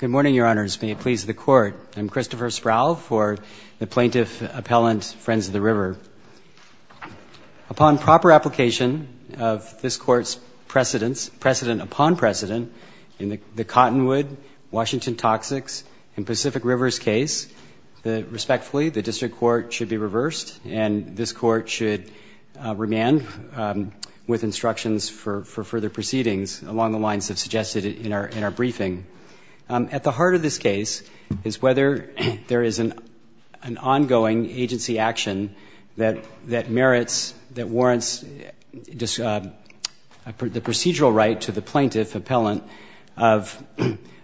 Good morning, Your Honors. May it please the Court. I'm Christopher Sproul for the Plaintiff-Appellant Friends of the River. Upon proper application of this Court's precedent upon precedent in the Cottonwood, Washington Toxics, and Pacific Rivers case, respectfully, the District Court should be reversed, and this Court should remand with instructions for further proceedings along the lines of suggested in our briefing. At the heart of this case is whether there is an ongoing agency action that merits, that warrants the procedural right to the plaintiff-appellant of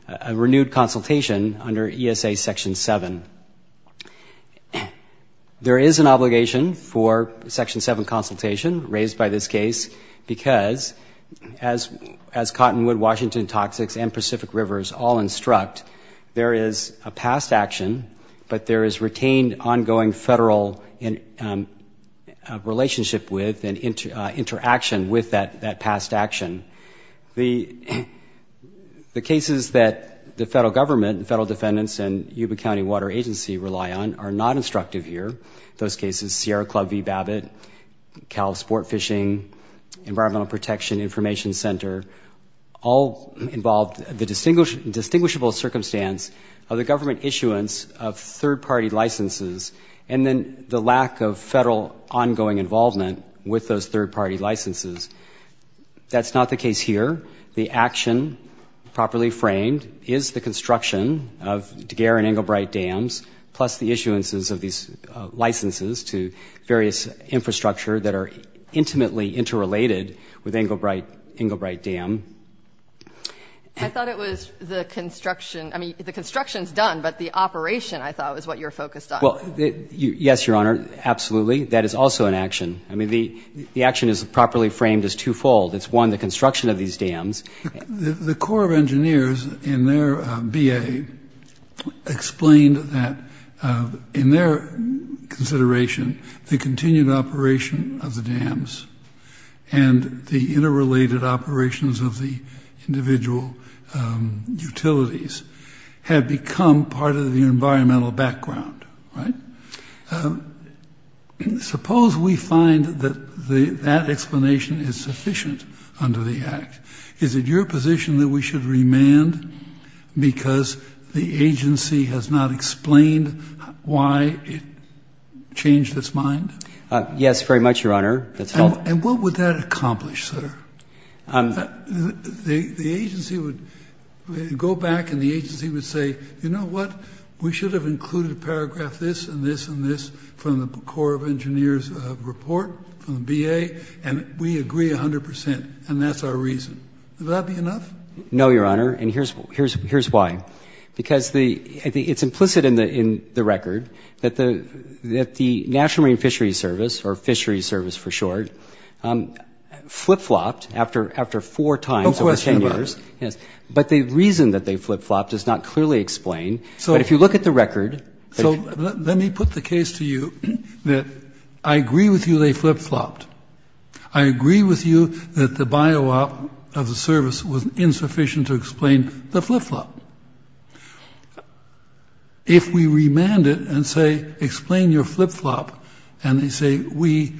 a renewed consultation under ESA Section 7. There is an obligation for Section 7 consultation raised by this case because, as Cottonwood, Washington Toxics, and Pacific Rivers all instruct, there is a past action, but there is retained ongoing federal relationship with and interaction with that past action. The cases that the federal government and federal defendants and Yuba County Water Agency rely on are not instructive here. Those cases, Sierra Club v. Babbitt, Cal Sport Fishing, Environmental Protection Information Center, all involve the distinguishable circumstance of the government issuance of third-party licenses and then the lack of federal ongoing involvement with those third-party licenses. That's not the case here. The action, properly framed, is the construction of Daguerre and Englebright dams, plus the issuances of these licenses to various infrastructure that are intimately interrelated with Englebright Dam. I thought it was the construction. I mean, the construction is done, but the operation, I thought, is what you're focused on. Well, yes, Your Honor, absolutely. That is also an action. I mean, the action is properly framed as twofold. It's, one, the construction of these dams. The Corps of Engineers, in their B.A., explained that, in their consideration, the continued operation of the dams and the Suppose we find that that explanation is sufficient under the Act. Is it your position that we should remand because the agency has not explained why it changed its mind? Yes, very much, Your Honor. The agency would go back and the agency would say, you know what, we should have included a paragraph, this and this and this, from the Corps of Engineers report from the B.A., and we agree 100 percent, and that's our reason. Would that be enough? No, Your Honor, and here's why. Because it's implicit in the record that the National Marine Fisheries Service, or Fisheries Service for short, flip-flopped after four times over 10 years. No question about it. Yes, but the reason that they flip-flopped is not clearly explained. So let me put the case to you that I agree with you they flip-flopped. I agree with you that the bio-op of the service was insufficient to explain the flip-flop. If we remand it and say, explain your flip-flop, and they say, we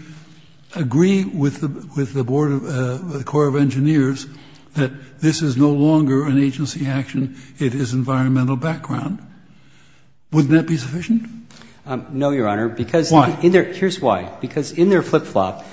agree with the Corps of Engineers that this is no longer an agency action, it is environmental background, wouldn't that be sufficient? No, Your Honor. Why? Here's why. Because in their flip-flop,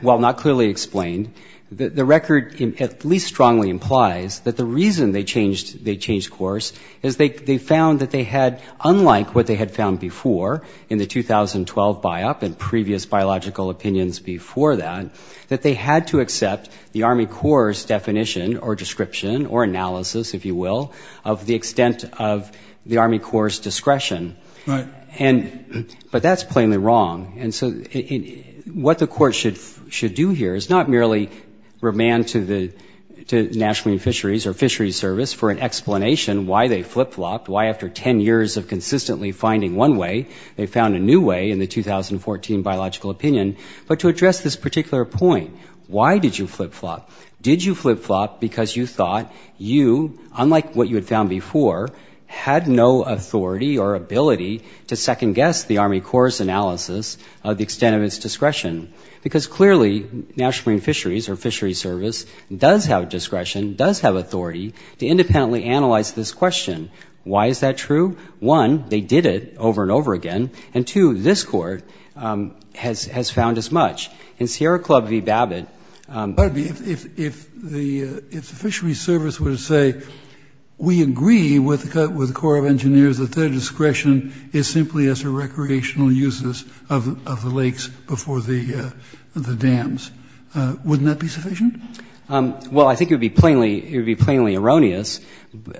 while not clearly explained, the record at least strongly implies that the reason they changed course is they found that they had, unlike what they had found before in the 2012 bio-op and previous biological opinions before that, that they had to accept the Army Corps' definition or description or analysis, if you will, of the extent of the Army Corps' discretion. Right. But that's plainly wrong. And so what the Court should do here is not merely remand to the National Marine Fisheries or Fisheries Service for an explanation why they flip-flopped, why after 10 years of consistently finding one way they found a new way in the 2014 biological opinion, but to address this particular point. Why did you flip-flop? Did you flip-flop because you thought you, unlike what you had found before, had no authority or ability to second-guess the Army Corps' analysis of the extent of its discretion? Because clearly, National Marine Fisheries or Fisheries Service does have discretion, does have authority to independently analyze this question. Why is that true? One, they did it over and over again, and two, this Court has found as much. In Sierra Club v. Babbitt — But if the Fisheries Service were to say, we agree with the Corps of Engineers that their discretion is simply as a recreational uses of the lakes before the dams, wouldn't that be sufficient? Well, I think it would be plainly erroneous,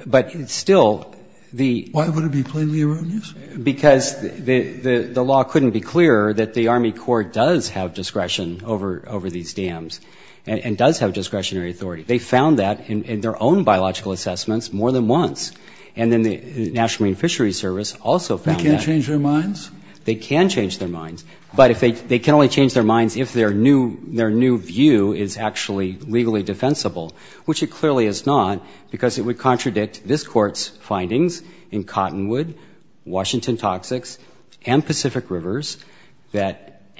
but still the — Why would it be plainly erroneous? Because the law couldn't be clearer that the Army Corps does have discretion over these dams and does have discretionary authority. They found that in their own biological assessments more than once, and then the National Marine Fisheries Service also found that. They can't change their minds? They can change their minds, but they can only change their minds if their new view is actually legally defensible, which it clearly is not, because it would contradict this Court's findings in Cottonwood, Washington Toxics, and Pacific Rivers that —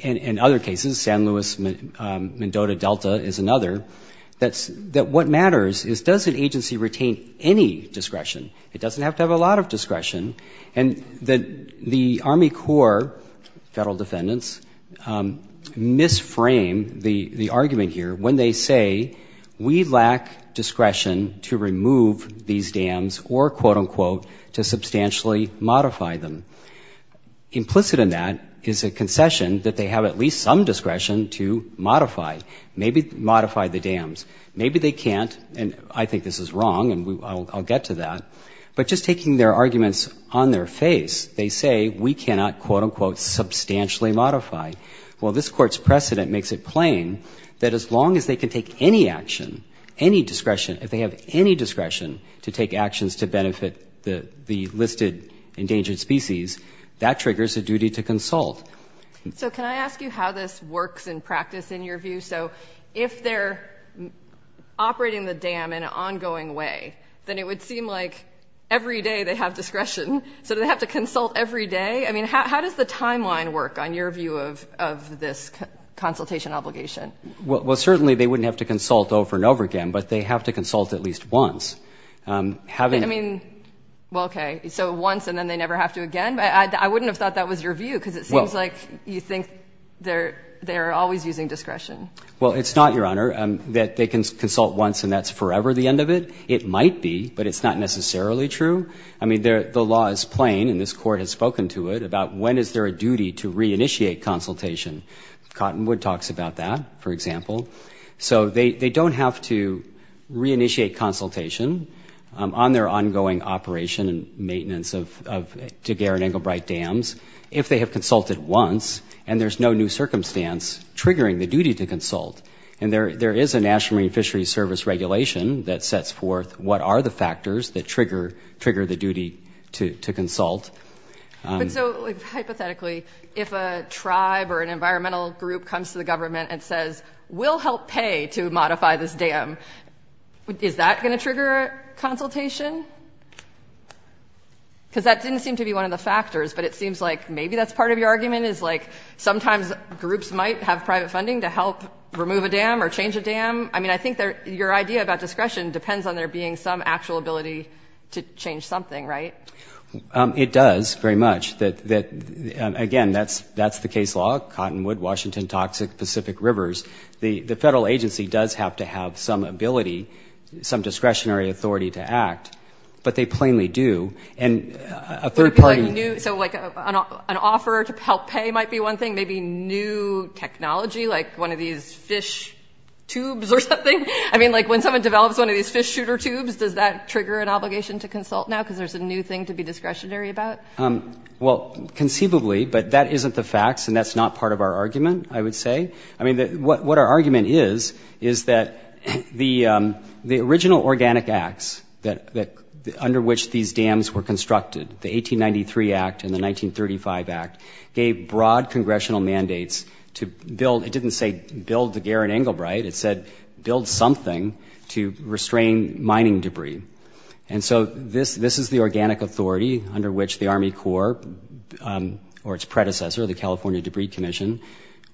in other cases, San Luis Mendoza Delta is another — that what matters is does an agency retain any discretion? It doesn't have to have a lot of discretion. And the Army Corps federal defendants misframe the argument here when they say, we lack discretion to remove these dams or, quote, unquote, to substantially modify them. Implicit in that is a concession that they have at least some discretion to modify, maybe modify the dams. Maybe they can't, and I think this is wrong, and I'll get to that. But just taking their arguments on their face, they say we cannot, quote, unquote, substantially modify. Well, this Court's precedent makes it plain that as long as they can take any action, any discretion, if they have any discretion to take actions to benefit the listed endangered species, that triggers a duty to consult. So can I ask you how this works in practice in your view? So if they're operating the dam in an ongoing way, then it would seem like every day they have discretion. So do they have to consult every day? I mean, how does the timeline work on your view of this consultation obligation? Well, certainly they wouldn't have to consult over and over again, but they have to consult at least once. Having — I mean, well, okay, so once and then they never have to again? I wouldn't have thought that was your view because it seems like you think they're always using discretion. Well, it's not, Your Honor, that they can consult once and that's forever the end of it. It might be, but it's not necessarily true. I mean, the law is plain, and this Court has spoken to it about when is there a duty to reinitiate consultation. Cottonwood talks about that, for example. So they don't have to reinitiate consultation on their ongoing operation and maintenance of Daguerre and Englebright dams if they have consulted once and there's no new circumstance triggering the duty to consult. And there is a National Marine Fisheries Service regulation that sets forth what are the factors that trigger the duty to consult. But so hypothetically, if a tribe or an environmental group comes to the government and says, we'll help pay to modify this dam, is that going to trigger a consultation? Because that didn't seem to be one of the factors, but it seems like maybe that's part of your argument, is like sometimes groups might have private funding to help remove a dam or change a dam. I mean, I think your idea about discretion depends on there being some actual ability to change something, right? It does, very much. Again, that's the case law, Cottonwood, Washington, Toxic Pacific Rivers. The federal agency does have to have some ability, some discretionary authority to act, but they plainly do. And a third party... So like an offer to help pay might be one thing, maybe new technology, like one of these fish tubes or something. I mean, like when someone develops one of these fish shooter tubes, does that trigger an obligation to consult now because there's a new thing to be discretionary about? Well, conceivably, but that isn't the facts, and that's not part of our argument, I would say. I mean, what our argument is, is that the original organic acts under which these dams were constructed, the 1893 Act and the 1935 Act, gave broad congressional mandates to build... It didn't say build the Gerrit Engelbreit. It said build something to restrain mining debris. And so this is the organic authority under which the Army Corps or its predecessor, the California Debris Commission,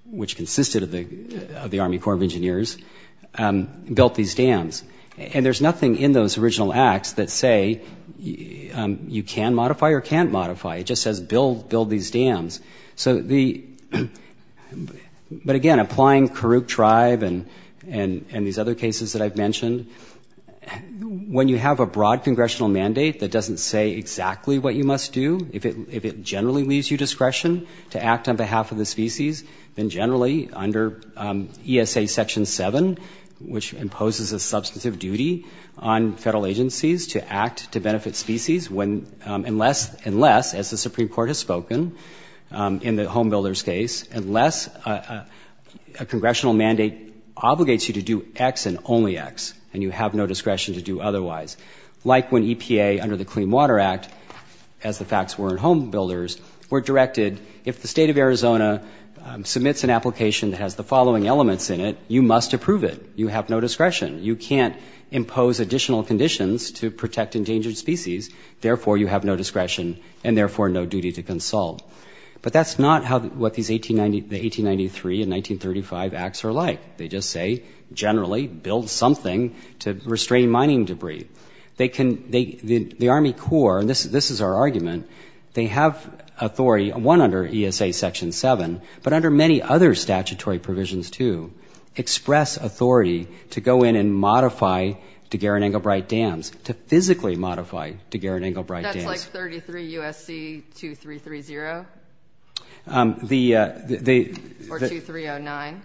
which consisted of the Army Corps of Engineers, built these dams. And there's nothing in those original acts that say you can modify or can't modify. It just says build these dams. So the... But again, applying Kurook tribe and these other cases that I've mentioned, when you have a broad congressional mandate that doesn't say exactly what you must do, if it generally leaves you discretion to act on behalf of the species, then generally under ESA Section 7, which imposes a substantive duty on federal agencies to act to benefit species, unless, as the Supreme Court has spoken in the Home Builders case, unless a congressional mandate obligates you to do X and only X, and you have no discretion to do otherwise. Like when EPA, under the Clean Water Act, as the facts were in Home Builders, were directed, if the state of Arizona submits an application that has the following elements in it, you must approve it. You have no discretion. You can't impose additional conditions to protect endangered species. Therefore, you have no discretion and therefore no duty to consult. But that's not what these 1893 and 1935 acts are like. They just say, generally, build something to restrain mining debris. They can... The Army Corps, and this is our argument, they have authority, one, under ESA Section 7, but under many other statutory provisions too, express authority to go in and modify Daguerrean-Engelbright dams, to physically modify Daguerrean-Engelbright dams. And that's like 33 U.S.C. 2330? The... Or 2309?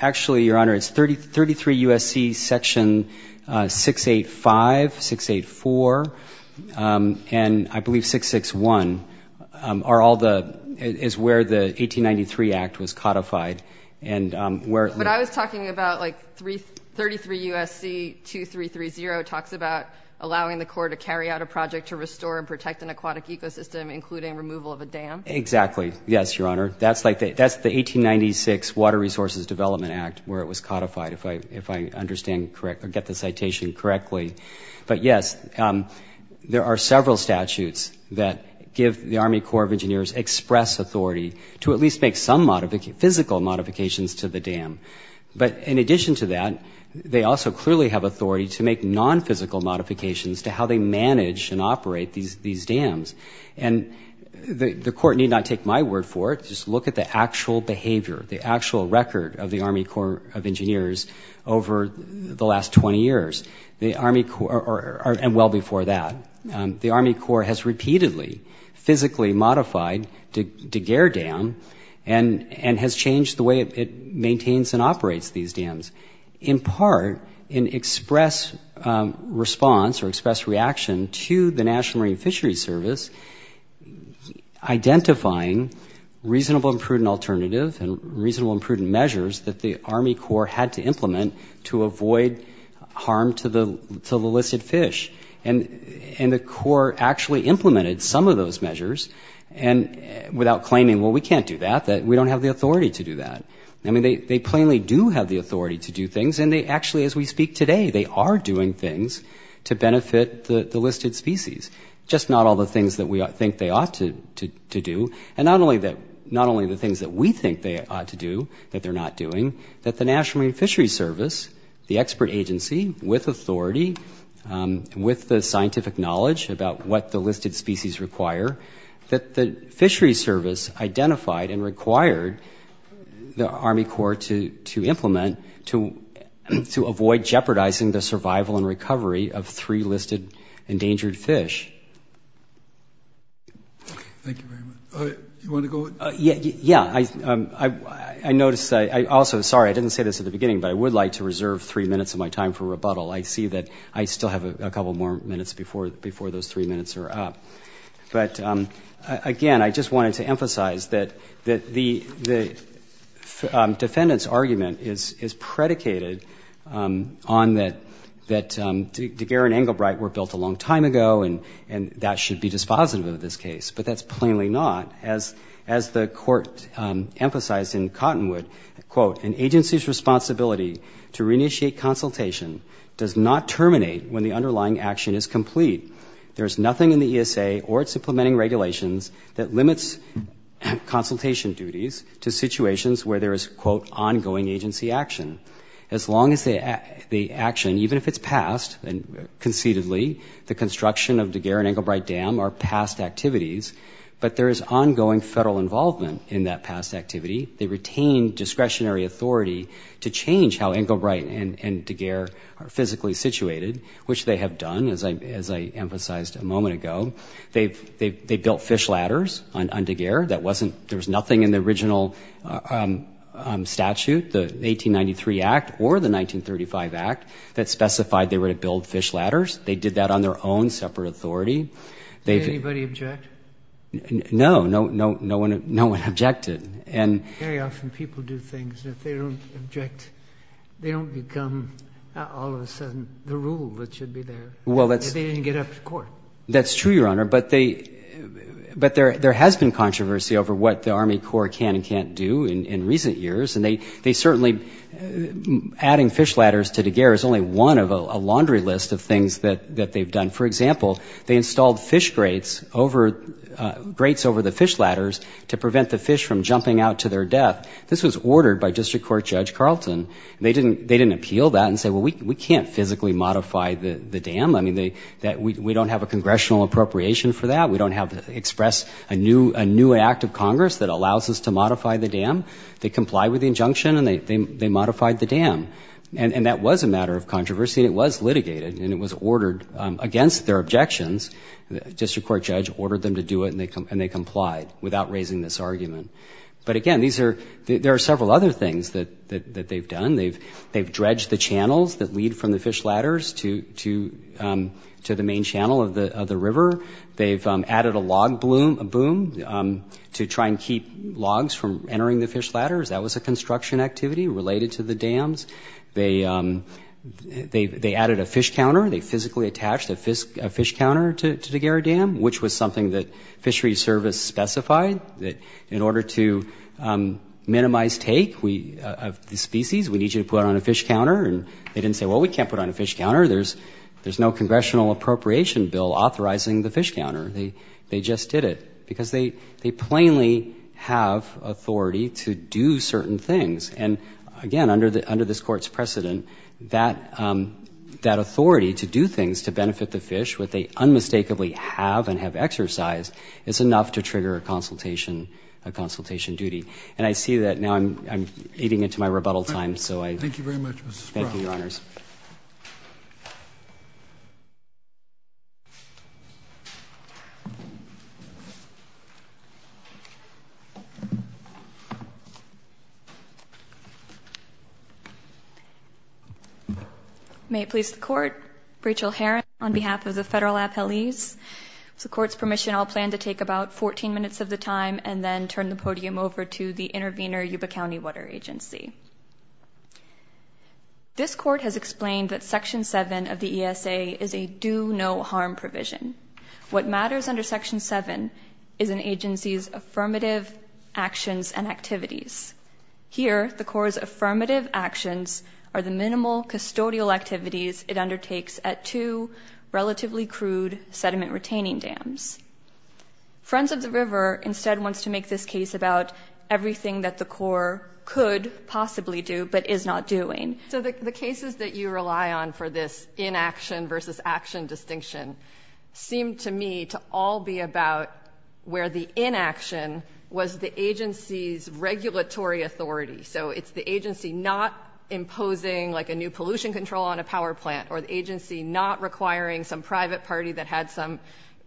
Actually, Your Honor, it's 33 U.S.C. Section 685, 684, and I believe 661 are all the... is where the 1893 act was codified and where... But I was talking about, like, 33 U.S.C. 2330 talks about allowing the Corps to carry out a project to restore and protect an aquatic ecosystem, including removal of a dam. Exactly. Yes, Your Honor. That's the 1896 Water Resources Development Act, where it was codified, if I understand correctly, or get the citation correctly. But, yes, there are several statutes that give the Army Corps of Engineers express authority to at least make some physical modifications to the dam. But in addition to that, they also clearly have authority to make non-physical modifications to how they manage and operate these dams. And the Court need not take my word for it. Just look at the actual behavior, the actual record of the Army Corps of Engineers over the last 20 years. The Army Corps... And well before that. The Army Corps has repeatedly physically modified Daguerre dam and has changed the way it maintains and operates these dams in part in express response or express reaction to the National Marine Fisheries Service identifying reasonable and prudent alternative and reasonable and prudent measures that the Army Corps had to implement to avoid harm to the illicit fish. And the Corps actually implemented some of those measures without claiming, well, we can't do that, that we don't have the authority to do that. I mean, they plainly do have the authority to do things, and they actually, as we speak today, they are doing things to benefit the listed species. Just not all the things that we think they ought to do. And not only the things that we think they ought to do that they're not doing, that the National Marine Fisheries Service, the expert agency with authority, with the scientific knowledge about what the listed species require, that the Fisheries Service identified and required the Army Corps to implement to avoid jeopardizing the survival and recovery of three listed endangered fish. Thank you very much. You want to go? Yeah. I noticed, also, sorry, I didn't say this at the beginning, but I would like to reserve three minutes of my time for rebuttal. I see that I still have a couple more minutes before those three minutes are up. But, again, I just wanted to emphasize that the defendant's argument is predicated on that Daguerre and Englebright were built a long time ago, and that should be dispositive of this case. But that's plainly not. As the Court emphasized in Cottonwood, quote, an agency's responsibility to reinitiate consultation does not terminate when the underlying action is complete. There is nothing in the ESA or its implementing regulations that limits consultation duties to situations where there is, quote, ongoing agency action. As long as the action, even if it's passed conceitedly, the construction of Daguerre and Englebright Dam are past activities, but there is ongoing federal involvement in that past activity. They retain discretionary authority to change how Englebright and Daguerre are physically situated, which they have done, as I emphasized a moment ago. They built fish ladders on Daguerre. There was nothing in the original statute, the 1893 Act or the 1935 Act, that specified they were to build fish ladders. They did that on their own separate authority. Did anybody object? No. No one objected. Very often people do things, and if they don't object, they don't become, all of a sudden, the rule that should be there. They didn't get up to court. That's true, Your Honor, but there has been controversy over what the Army Corps can and can't do in recent years, and they certainly, adding fish ladders to Daguerre is only one of a laundry list of things that they've done. For example, they installed fish grates over the fish ladders to prevent the fish from jumping out to their death. This was ordered by District Court Judge Carlton. well, we can't physically modify the dam. We don't have a congressional appropriation for that. We don't have to express a new act of Congress that allows us to modify the dam. They complied with the injunction, and they modified the dam. And that was a matter of controversy, and it was litigated, and it was ordered against their objections. The District Court Judge ordered them to do it, and they complied without raising this argument. But again, there are several other things that they've done. They've dredged the channels that lead from the fish ladders to the main channel of the river. They've added a log boom to try and keep logs from entering the fish ladders. That was a construction activity related to the dams. They added a fish counter. They physically attached a fish counter to Daguerre Dam, which was something that fishery service specified, that in order to minimize take of the species, we need you to put on a fish counter. In turn, they didn't say, well, we can't put on a fish counter. There's no congressional appropriation bill authorizing the fish counter. They just did it because they plainly have authority to do certain things. And again, under this Court's precedent, that authority to do things to benefit the fish, what they unmistakably have and have exercised, is enough to trigger a consultation duty. And I see that now I'm eating into my rebuttal time. Thank you very much, Mr. Sproul. Thank you, Your Honors. May it please the Court, Rachel Heron on behalf of the federal appellees. With the Court's permission, I'll plan to take about 14 minutes of the time and then turn the podium over to the intervener Yuba County Water Agency. This Court has explained that Section 7 of the ESA is a do-no-harm provision. What matters under Section 7 is an agency's affirmative actions and activities. Here, the Court's affirmative actions are the minimal custodial activities it undertakes at two relatively crude sediment-retaining dams. Friends of the River instead wants to make this case about everything that the Corps could possibly do but is not doing. So the cases that you rely on for this inaction versus action distinction seem to me to all be about where the inaction was the agency's regulatory authority. So it's the agency not imposing, like, a new pollution control on a power plant or the agency not requiring some private party that had some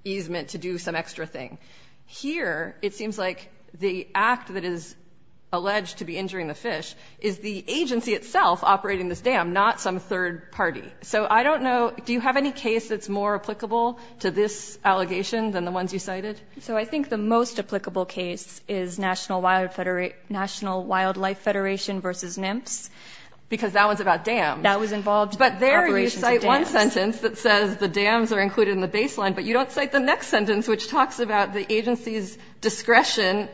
easement to do some extra thing. Here, it seems like the act that is alleged to be injuring the fish is the agency itself operating this dam, not some third party. So I don't know, do you have any case that's more applicable to this allegation than the ones you cited? So I think the most applicable case is National Wildlife Federation versus NIMPS. Because that one's about dams. That was involved in the operations of dams. But there you cite one sentence that says the dams are included in the baseline, but you don't cite the next sentence which talks about the agency's discretion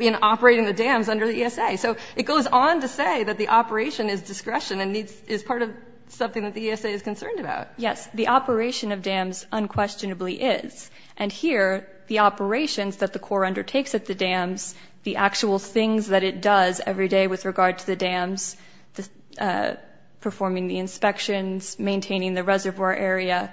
in operating the dams under the ESA. So it goes on to say that the operation is discretion and is part of something that the ESA is concerned about. Yes, the operation of dams unquestionably is. And here, the operations that the Corps undertakes at the dams, the actual things that it does every day with regard to the dams, performing the inspections, maintaining the reservoir area,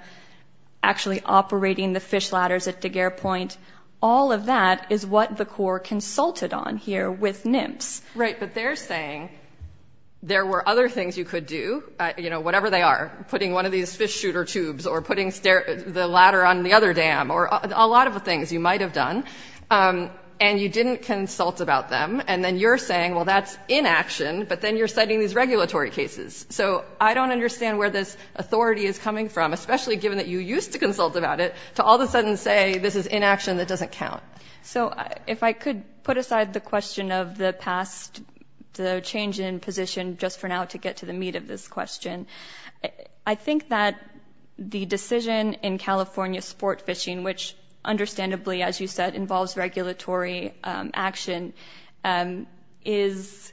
actually operating the fish ladders at Daguerre Point, all of that is what the Corps consulted on here with NIMPS. Right, but they're saying there were other things you could do, whatever they are, putting one of these fish shooter tubes or putting the ladder on the other dam or a lot of the things you might have done, and you didn't consult about them. And then you're saying, well, that's inaction, but then you're citing these regulatory cases. So I don't understand where this authority is coming from, especially given that you used to consult about it, to all of a sudden say this is inaction that doesn't count. So if I could put aside the question of the past, the change in position just for now to get to the meat of this question. I think that the decision in California sport fishing, which understandably, as you said, involves regulatory action, is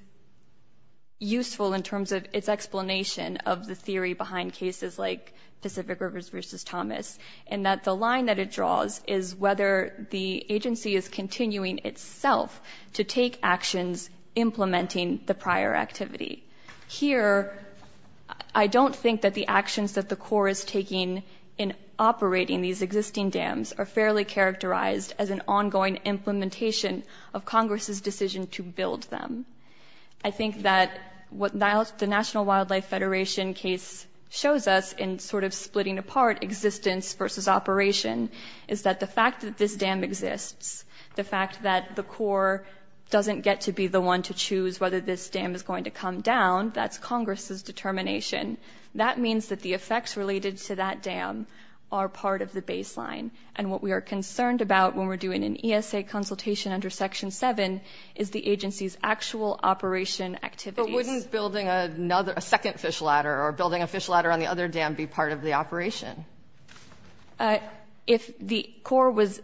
useful in terms of its explanation of the theory behind cases like Pacific Rivers v. Thomas and that the line that it draws is whether the agency is continuing itself to take actions implementing the prior activity. Here, I don't think that the actions that the Corps is taking in operating these existing dams are fairly characterized as an ongoing implementation of Congress's decision to build them. I think that what the National Wildlife Federation case shows us in sort of splitting apart existence versus operation is that the fact that this dam exists, the fact that the Corps doesn't get to be the one to choose whether this dam is going to come down, that's Congress's determination. That means that the effects related to that dam are part of the baseline. And what we are concerned about when we're doing an ESA consultation under Section 7 is the agency's actual operation activities. But wouldn't building a second fish ladder or building a fish ladder on the other dam be part of the operation? If the Corps was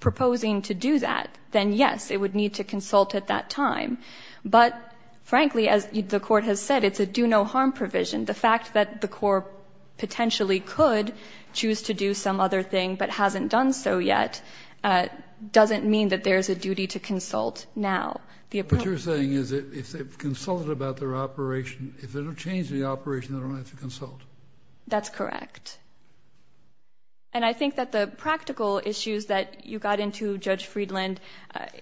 proposing to do that, then yes, it would need to consult at that time. But frankly, as the Court has said, it's a do-no-harm provision. The fact that the Corps potentially could choose to do some other thing but hasn't done so yet doesn't mean that there's a duty to consult now. What you're saying is if they've consulted about their operation, if they're going to change the operation, they don't have to consult. That's correct. And I think that the practical issues that you got into, Judge Friedland,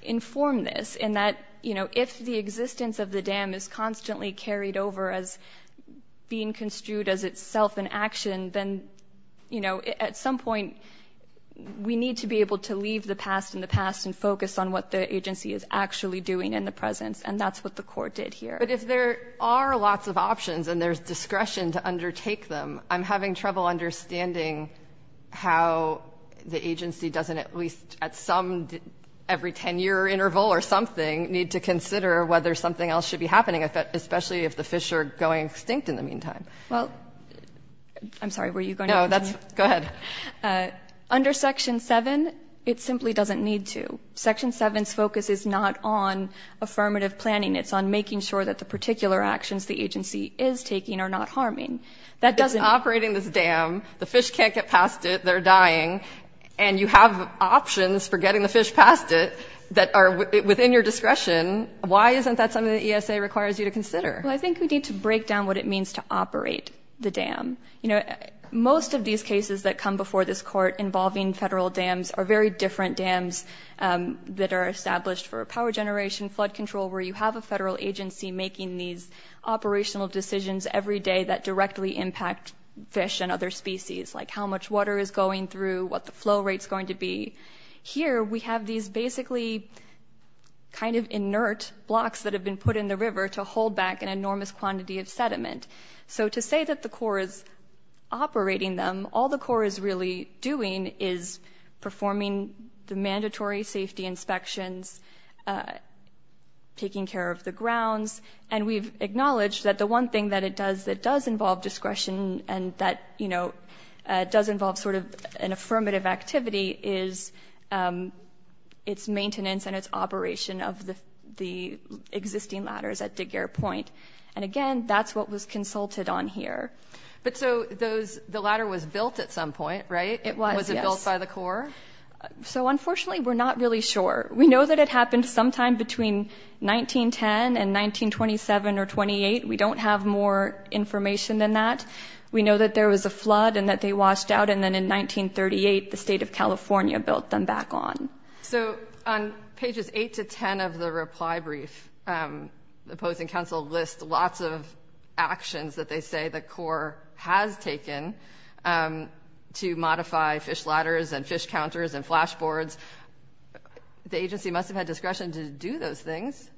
inform this in that if the existence of the dam is constantly carried over as being construed as itself an action, then, you know, at some point, we need to be able to leave the past in the past and focus on what the agency is actually doing in the present, and that's what the Corps did here. But if there are lots of options and there's discretion to undertake them, I'm having trouble understanding how the agency doesn't at least at some, every 10-year interval or something, need to consider whether something else should be happening, especially if the fish are going extinct in the meantime. Well, I'm sorry, were you going to continue? No, that's... Go ahead. Under Section 7, it simply doesn't need to. Section 7's focus is not on affirmative planning. It's on making sure that the particular actions the agency is taking are not harming. If it's operating this dam, the fish can't get past it, they're dying, and you have options for getting the fish past it that are within your discretion, why isn't that something the ESA requires you to consider? Well, I think we need to break down what it means to operate the dam. You know, most of these cases that come before this Court involving federal dams are very different dams that are established for power generation, flood control, where you have a federal agency making these operational decisions every day that directly impact fish and other species, like how much water is going through, what the flow rate's going to be. Here, we have these basically kind of inert blocks that have been put in the river to hold back an enormous quantity of sediment. So to say that the Corps is operating them, all the Corps is really doing is performing the mandatory safety inspections, taking care of the grounds, and we've acknowledged that the one thing that it does that does involve discretion and that, you know, does involve sort of an affirmative activity is its maintenance and its operation of the existing ladders at Degare Point. And again, that's what was consulted on here. But so the ladder was built at some point, right? It was, yes. Was it built by the Corps? So unfortunately, we're not really sure. We know that it happened sometime between 1910 and 1927 or 28. We don't have more information than that. We know that there was a flood and that they washed out, and then in 1938, the state of California built them back on. So on pages 8 to 10 of the reply brief, the opposing counsel lists lots of actions that they say the Corps has taken to modify fish ladders and fish counters and flashboards. The agency must have had discretion to do those things.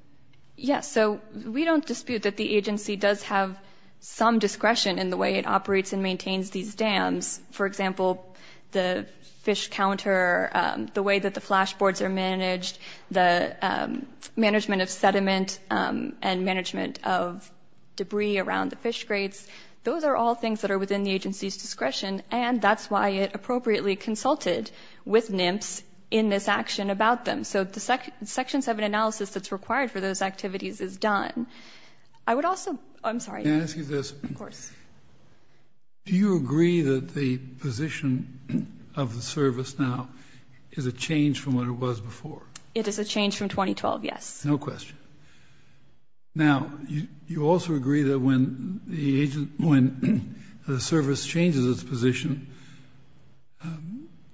Yes, so we don't dispute that the agency does have some discretion in the way it operates and maintains these dams. For example, the fish counter, the way that the flashboards are managed, the management of sediment and management of debris around the fish grates. Those are all things that are within the agency's discretion, and that's why it appropriately consulted with NIMS in this action about them. So the Section 7 analysis that's required for those activities is done. I would also... I'm sorry. Can I ask you this? Of course. Do you agree that the position of the service now is a change from what it was before? It is a change from 2012, yes. No question. Now, you also agree that when the service changes its position,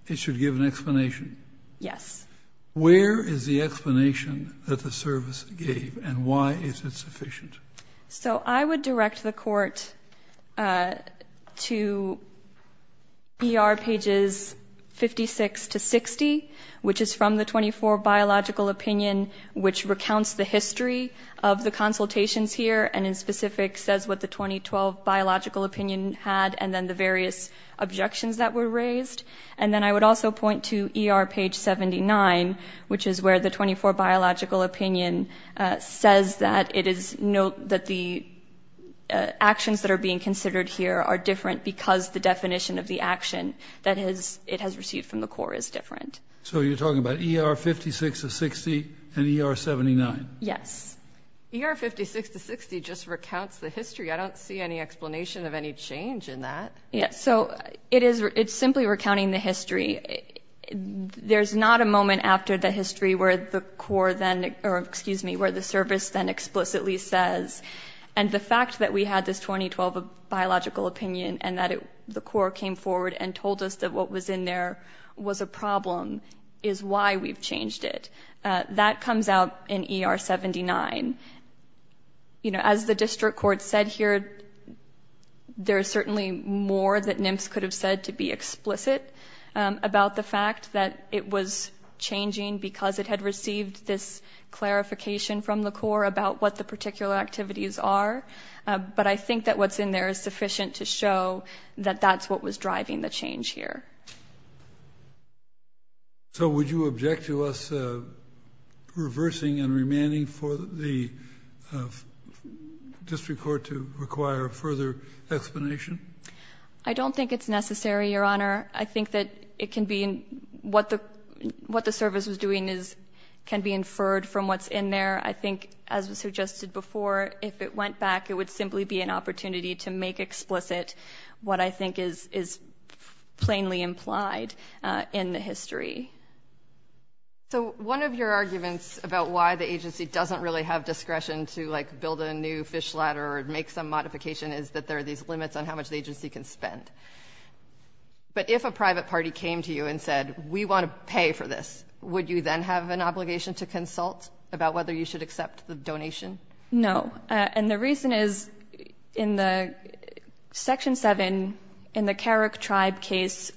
it should give an explanation? Yes. Where is the explanation that the service gave, and why is it sufficient? So I would direct the Court to ER pages 56 to 60, which is from the 24 Biological Opinion, which recounts the history of the consultations here and in specific says what the 2012 Biological Opinion had and then the various objections that were raised. And then I would also point to ER page 79, which is where the 24 Biological Opinion says that the actions that are being considered here are different because the definition of the action that it has received from the Corps is different. So you're talking about ER 56 to 60 and ER 79? Yes. ER 56 to 60 just recounts the history. I don't see any explanation of any change in that. So it's simply recounting the history. There's not a moment after the history where the Corps then... explicitly says, and the fact that we had this 2012 Biological Opinion and that the Corps came forward and told us that what was in there was a problem is why we've changed it. That comes out in ER 79. You know, as the District Court said here, there is certainly more that NMFS could have said to be explicit about the fact that it was changing because it had received this clarification from the Corps about what the particular activities are. But I think that what's in there is sufficient to show that that's what was driving the change here. So would you object to us reversing and remanding for the District Court to require further explanation? I don't think it's necessary, Your Honour. I think that it can be... what the service was doing can be inferred from what's in there. I think, as was suggested before, if it went back, it would simply be an opportunity to make explicit what I think is plainly implied in the history. So one of your arguments about why the agency doesn't really have discretion to, like, build a new fish ladder or make some modification is that there are these limits on how much the agency can spend. But if a private party came to you and said, we want to pay for this, would you then have an obligation to consult about whether you should accept the donation? No. And the reason is, in the Section 7, in the Carrick Tribe case,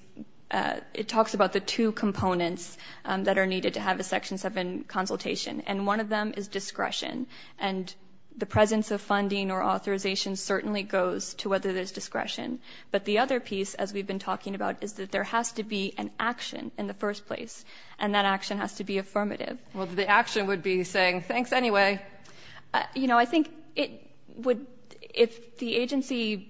it talks about the two components that are needed to have a Section 7 consultation, and one of them is discretion. And the presence of funding or authorization certainly goes to whether there's discretion. But the other piece, as we've been talking about, is that there has to be an action in the first place, and that action has to be affirmative. Well, the action would be saying, thanks anyway. You know, I think it would... If the agency...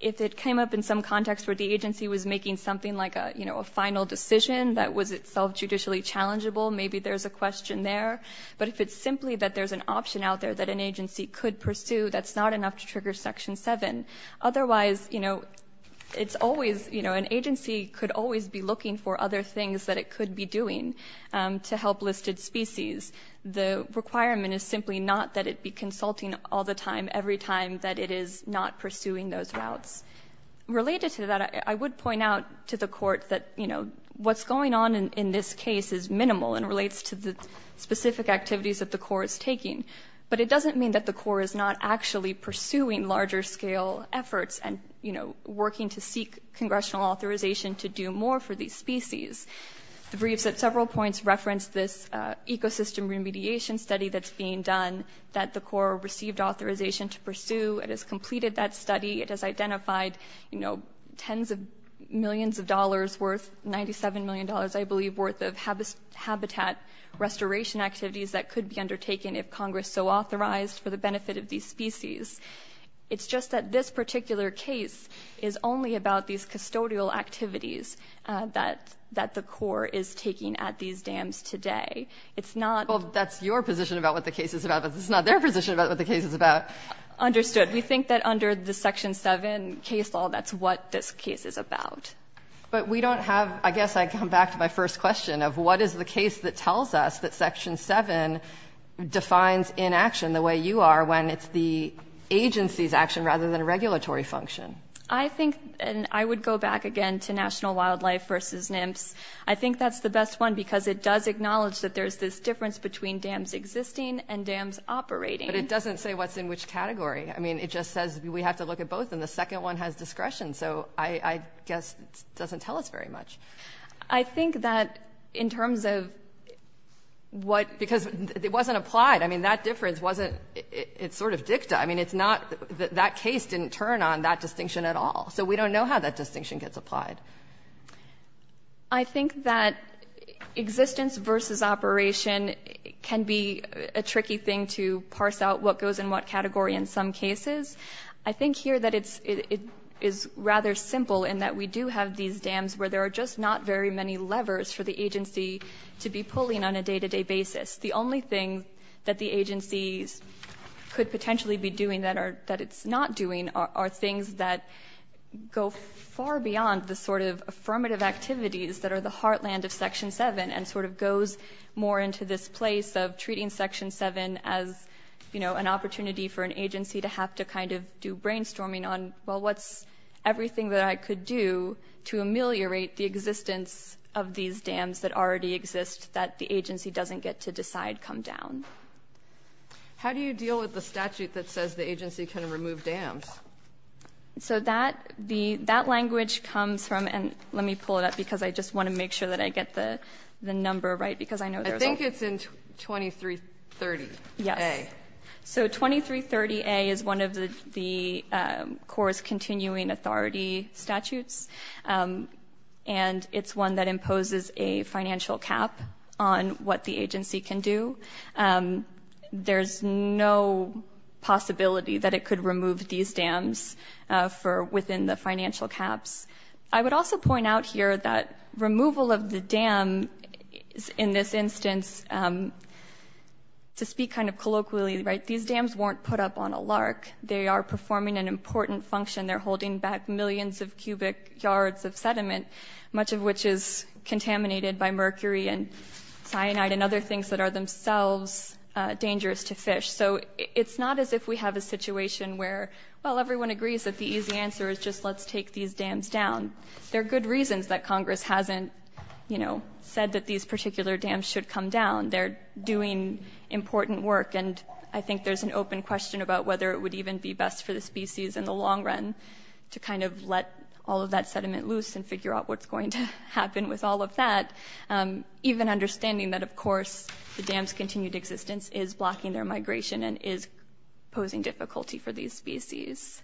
If it came up in some context where the agency was making something like, you know, a final decision that was itself judicially challengeable, maybe there's a question there. But if it's simply that there's an option out there that an agency could pursue, that's not enough to trigger Section 7. Otherwise, you know, it's always... You know, an agency could always be looking for other things that it could be doing to help listed species. The requirement is simply not that it be consulting all the time, every time that it is not pursuing those routes. Related to that, I would point out to the Court that, you know, what's going on in this case is minimal and relates to the specific activities that the Court is taking. But it doesn't mean that the Court is not actually pursuing larger-scale efforts and, you know, working to seek congressional authorization to do more for these species. The briefs at several points reference this ecosystem remediation study that's being done that the Court received authorization to pursue. It has completed that study. It has identified, you know, tens of millions of dollars worth, $97 million, I believe, worth of habitat restoration activities that could be undertaken if Congress so authorized for the benefit of these species. It's just that this particular case is only about these custodial activities that the Court is taking at these dams today. It's not... Well, that's your position about what the case is about, but it's not their position about what the case is about. Understood. We think that under the Section 7 case law, that's what this case is about. But we don't have... I guess I come back to my first question of what is the case that tells us that Section 7 defines inaction the way you are when it's the agency's action rather than a regulatory function? I think... And I would go back again to National Wildlife v. NIMPS. I think that's the best one because it does acknowledge that there's this difference between dams existing and dams operating. But it doesn't say what's in which category. I mean, it just says we have to look at both, and the second one has discretion, so I guess it doesn't tell us very much. I think that in terms of what... Because it wasn't applied. I mean, that difference wasn't... It's sort of dicta. I mean, it's not... That case didn't turn on that distinction at all, so we don't know how that distinction gets applied. I think that existence versus operation can be a tricky thing to parse out what goes in what category in some cases. I think here that it is rather simple in that we do have these dams where there are just not very many levers for the agency to be pulling on a day-to-day basis. The only thing that the agencies could potentially be doing that it's not doing are things that go far beyond the sort of affirmative activities that are the heartland of Section 7 and sort of goes more into this place of treating Section 7 as, you know, an opportunity for an agency to have to kind of do brainstorming on, well, what's everything that I could do to ameliorate the existence of these dams that already exist that the agency doesn't get to decide come down? How do you deal with the statute that says the agency can remove dams? So that language comes from... And let me pull it up because I just want to make sure that I get the number right because I know there's... I think it's in 2330A. Yes. So 2330A is one of the Corps' continuing authority statutes, and it's one that imposes a financial cap on what the agency can do. There's no possibility that it could remove these dams within the financial caps. I would also point out here that removal of the dam, in this instance, to speak kind of colloquially, right, these dams weren't put up on a lark. They are performing an important function. They're holding back millions of cubic yards of sediment, much of which is contaminated by mercury and cyanide and other things that are themselves dangerous to fish. So it's not as if we have a situation where, well, everyone agrees that the easy answer is just let's take these dams down. There are good reasons that Congress hasn't, you know, said that these particular dams should come down. They're doing important work, and I think there's an open question about whether it would even be best for the species in the long run to kind of let all of that sediment loose and figure out what's going to happen with all of that, even understanding that, of course, the dam's continued existence is blocking their migration and is posing difficulty for these species.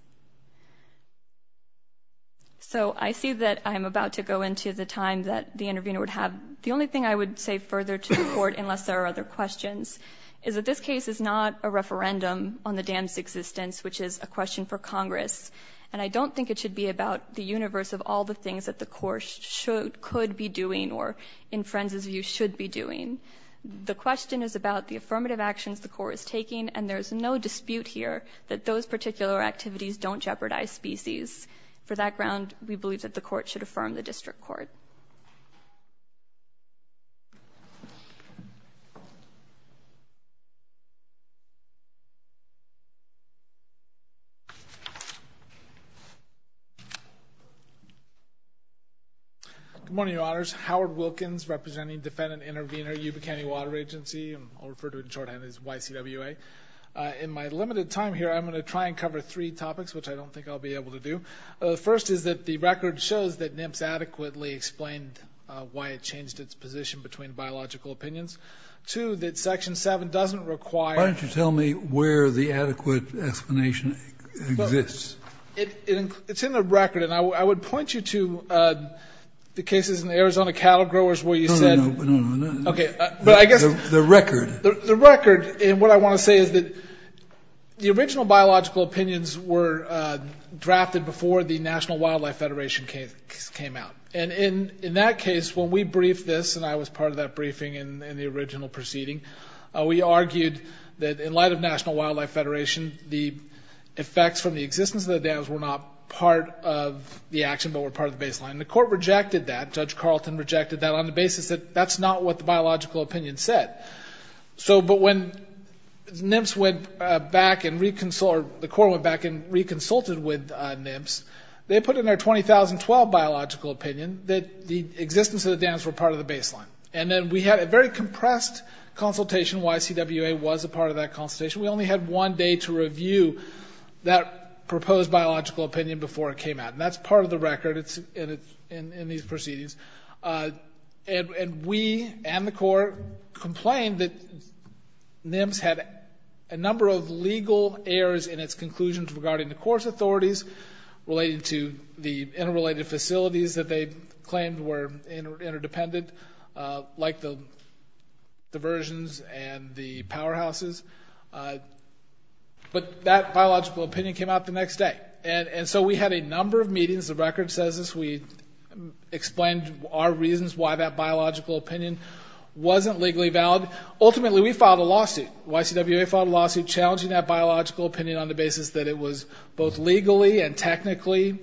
So I see that I'm about to go into the time that the intervener would have. The only thing I would say further to the Court, unless there are other questions, is that this case is not a referendum on the dam's existence, which is a question for Congress, and I don't think it should be about the universe of all the things that the Corps could be doing or, in Frenz's view, should be doing. The question is about the affirmative actions the Corps is taking, and there's no dispute here that those particular activities don't jeopardize species. For that ground, we believe that the Court should affirm the District Court. Thank you. Good morning, Your Honors. Howard Wilkins, representing defendant-intervenor Yuba County Water Agency, and I'll refer to it in shorthand as YCWA. In my limited time here, I'm going to try and cover three topics, which I don't think I'll be able to do. First is that the record shows that NIMPS adequately explained why it changed its position between biological opinions. Two, that Section 7 doesn't require... Why don't you tell me where the adequate explanation exists? It's in the record, and I would point you to the cases in the Arizona cattle growers where you said... No, no, no. Okay, but I guess... The record. The record. And what I want to say is that the original biological opinions were drafted before the National Wildlife Federation case came out. And in that case, when we briefed this, and I was part of that briefing in the original proceeding, we argued that, in light of National Wildlife Federation, the effects from the existence of the dams were not part of the action but were part of the baseline. And the court rejected that. Judge Carlton rejected that on the basis that that's not what the biological opinion said. So, but when NIMPS went back and reconciled... Or the court went back and reconsulted with NIMPS, they put in their 2012 biological opinion that the existence of the dams were part of the baseline. And then we had a very compressed consultation why CWA was a part of that consultation. We only had one day to review that proposed biological opinion before it came out. And that's part of the record. It's in these proceedings. And we and the court complained that NIMPS had a number of legal errors in its conclusions regarding the course authorities relating to the interrelated facilities that they claimed were interdependent, like the diversions and the powerhouses. But that biological opinion came out the next day. And so we had a number of meetings. The record says this. We explained our reasons why that biological opinion wasn't legally valid. Ultimately, we filed a lawsuit. YCWA filed a lawsuit challenging that biological opinion on the basis that it was both legally and technically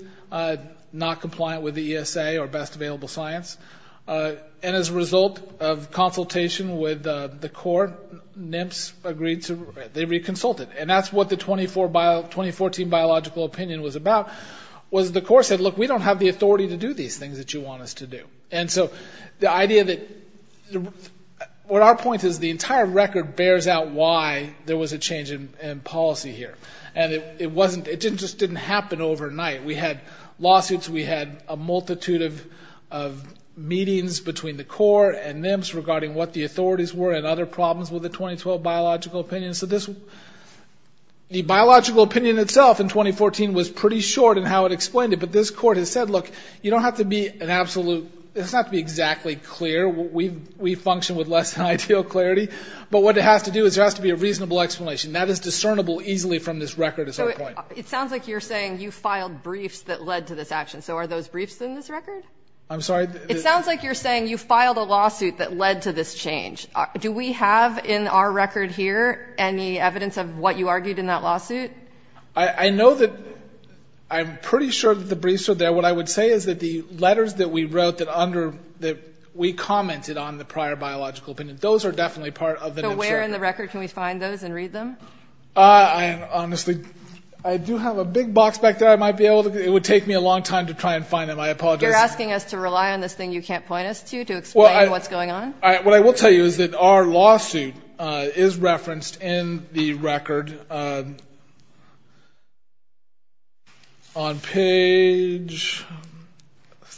not compliant with the ESA or best available science. And as a result of consultation with the court, NIMPS agreed to... They reconsulted. And that's what the 2014 biological opinion was about, was the court said, look, we don't have the authority to do these things that you want us to do. And so the idea that... Our point is the entire record bears out why there was a change in policy here. And it wasn't... It just didn't happen overnight. We had lawsuits. We had a multitude of meetings between the court and NIMPS regarding what the authorities were and other problems with the 2012 biological opinion. So this... The biological opinion itself in 2014 was pretty short in how it explained it. But this court has said, look, you don't have to be an absolute... It doesn't have to be exactly clear. We function with less than ideal clarity. But what it has to do is there has to be a reasonable explanation. That is discernible easily from this record, is our point. So it sounds like you're saying you filed briefs that led to this action. So are those briefs in this record? I'm sorry? It sounds like you're saying you filed a lawsuit that led to this change. Do we have in our record here any evidence of what you argued in that lawsuit? I know that... I'm pretty sure that the briefs are there. What I would say is that the letters that we wrote that we commented on the prior biological opinion, those are definitely part of the... So where in the record can we find those and read them? I honestly... I do have a big box back there. I might be able to... It would take me a long time to try and find them. I apologize. You're asking us to rely on this thing you can't point us to to explain what's going on? What I will tell you is that our lawsuit is referenced in the record on page...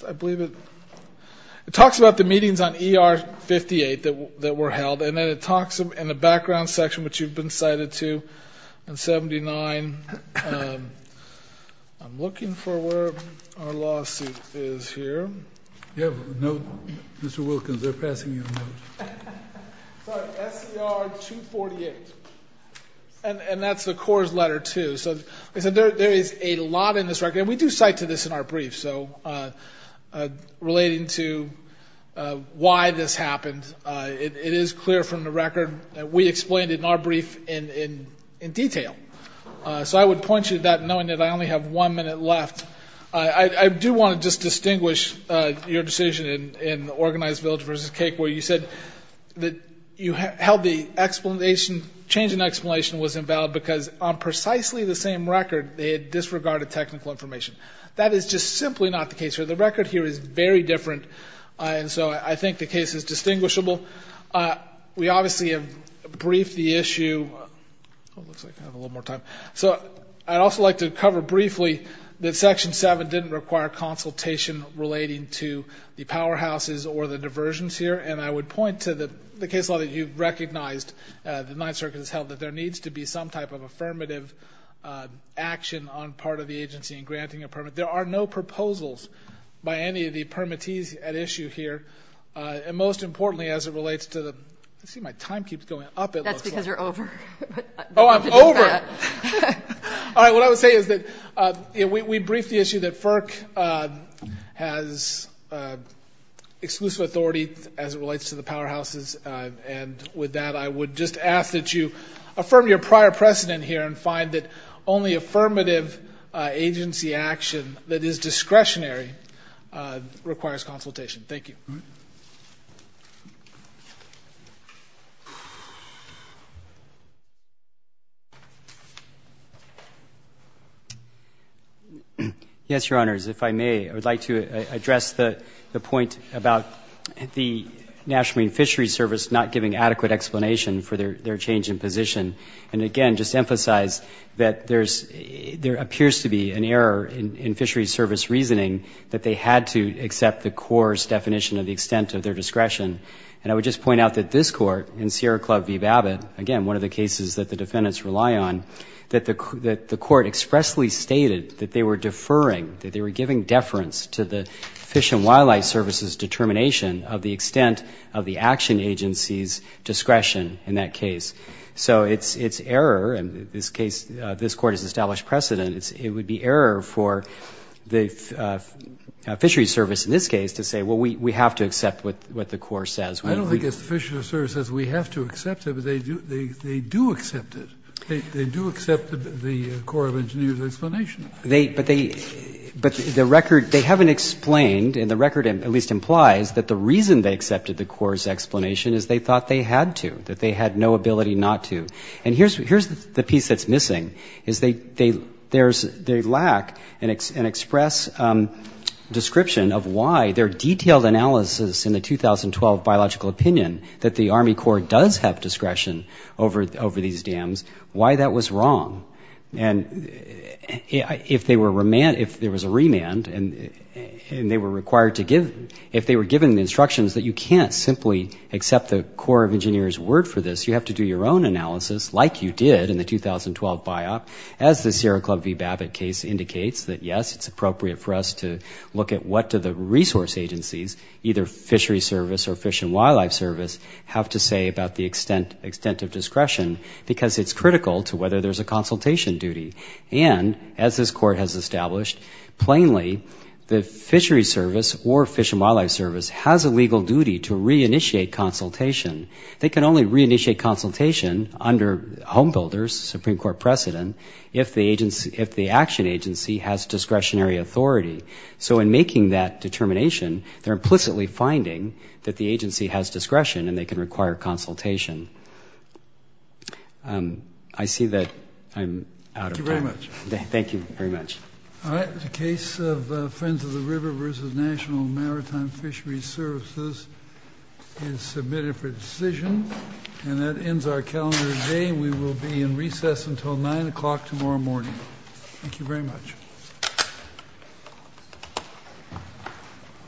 I believe it... It talks about the meetings on ER 58 that were held and then it talks in the background section which you've been cited to, and 79... I'm looking for where our lawsuit is here. You have a note, Mr. Wilkins. They're passing you a note. Sorry. SER 248. And that's the CORE's letter too. So there is a lot in this record. And we do cite to this in our briefs. So relating to why this happened, it is clear from the record that we explained it in our brief in detail. So I would point you to that knowing that I only have one minute left. I do want to just distinguish your decision in Organized Village v. Cake where you said that you held the explanation... change in explanation was invalid because on precisely the same record they had disregarded technical information. That is just simply not the case here. The record here is very different. And so I think the case is distinguishable. We obviously have briefed the issue... Oh, it looks like I have a little more time. So I'd also like to cover briefly that Section 7 didn't require consultation relating to the powerhouses or the diversions here. And I would point to the case law that you've recognized, the Ninth Circuit has held, that there needs to be some type of affirmative action on part of the agency in granting a permit. There are no proposals by any of the permittees at issue here. And most importantly, as it relates to the... I see my time keeps going up. That's because you're over. Oh, I'm over? All right, what I would say is that we briefed the issue that FERC has exclusive authority as it relates to the powerhouses. And with that, I would just ask that you affirm your prior precedent here and find that only affirmative agency action that is discretionary requires consultation. Thank you. Yes, Your Honors, if I may, I would like to address the point about the National Marine Fisheries Service not giving adequate explanation for their change in position. And again, just emphasize that there's... there appears to be an error in fisheries service reasoning that they had to accept the Corps' definition of the extent of their discretion. And I would just point out that this Court, in Sierra Club v. Babbitt, again, one of the cases that the defendants rely on, that the Court expressly stated that they were deferring, that they were giving deference to the Fish and Wildlife Service's determination of the extent of the action agency's discretion in that case. So it's error. In this case, this Court has established precedent. It would be error for the fisheries service, in this case, to say, well, we have to accept what the Corps says. I don't think it's the fisheries service says we have to accept it, but they do accept it. They do accept the Corps of Engineers' explanation. But they... but the record... they haven't explained, and the record at least implies that the reason they accepted the Corps' explanation is they thought they had to, that they had no ability not to. And here's the piece that's missing, is they lack an express description of why their detailed analysis in the 2012 biological opinion that the Army Corps does have discretion over these dams, why that was wrong. And if they were remand... if there was a remand and they were required to give... if they were given the instructions that you can't simply accept the Corps of Engineers' word for this, you have to do your own analysis, like you did in the 2012 biop, as the Sierra Club v. Babbitt case indicates, that, yes, it's appropriate for us to look at what do the resource agencies, either fisheries service or fish and wildlife service, have to say about the extent of discretion, because it's critical to whether there's a consultation duty. And, as this Court has established, plainly, the fisheries service or fish and wildlife service has a legal duty to reinitiate consultation. They can only reinitiate consultation under Home Builders, Supreme Court precedent, if the action agency has discretionary authority. So in making that determination, they're implicitly finding that the agency has discretion and they can require consultation. I see that I'm out of time. Thank you very much. Thank you very much. All right. The case of Friends of the River v. National Maritime Fisheries Services is submitted for decision. And that ends our calendar today. We will be in recess until 9 o'clock tomorrow morning. Thank you very much.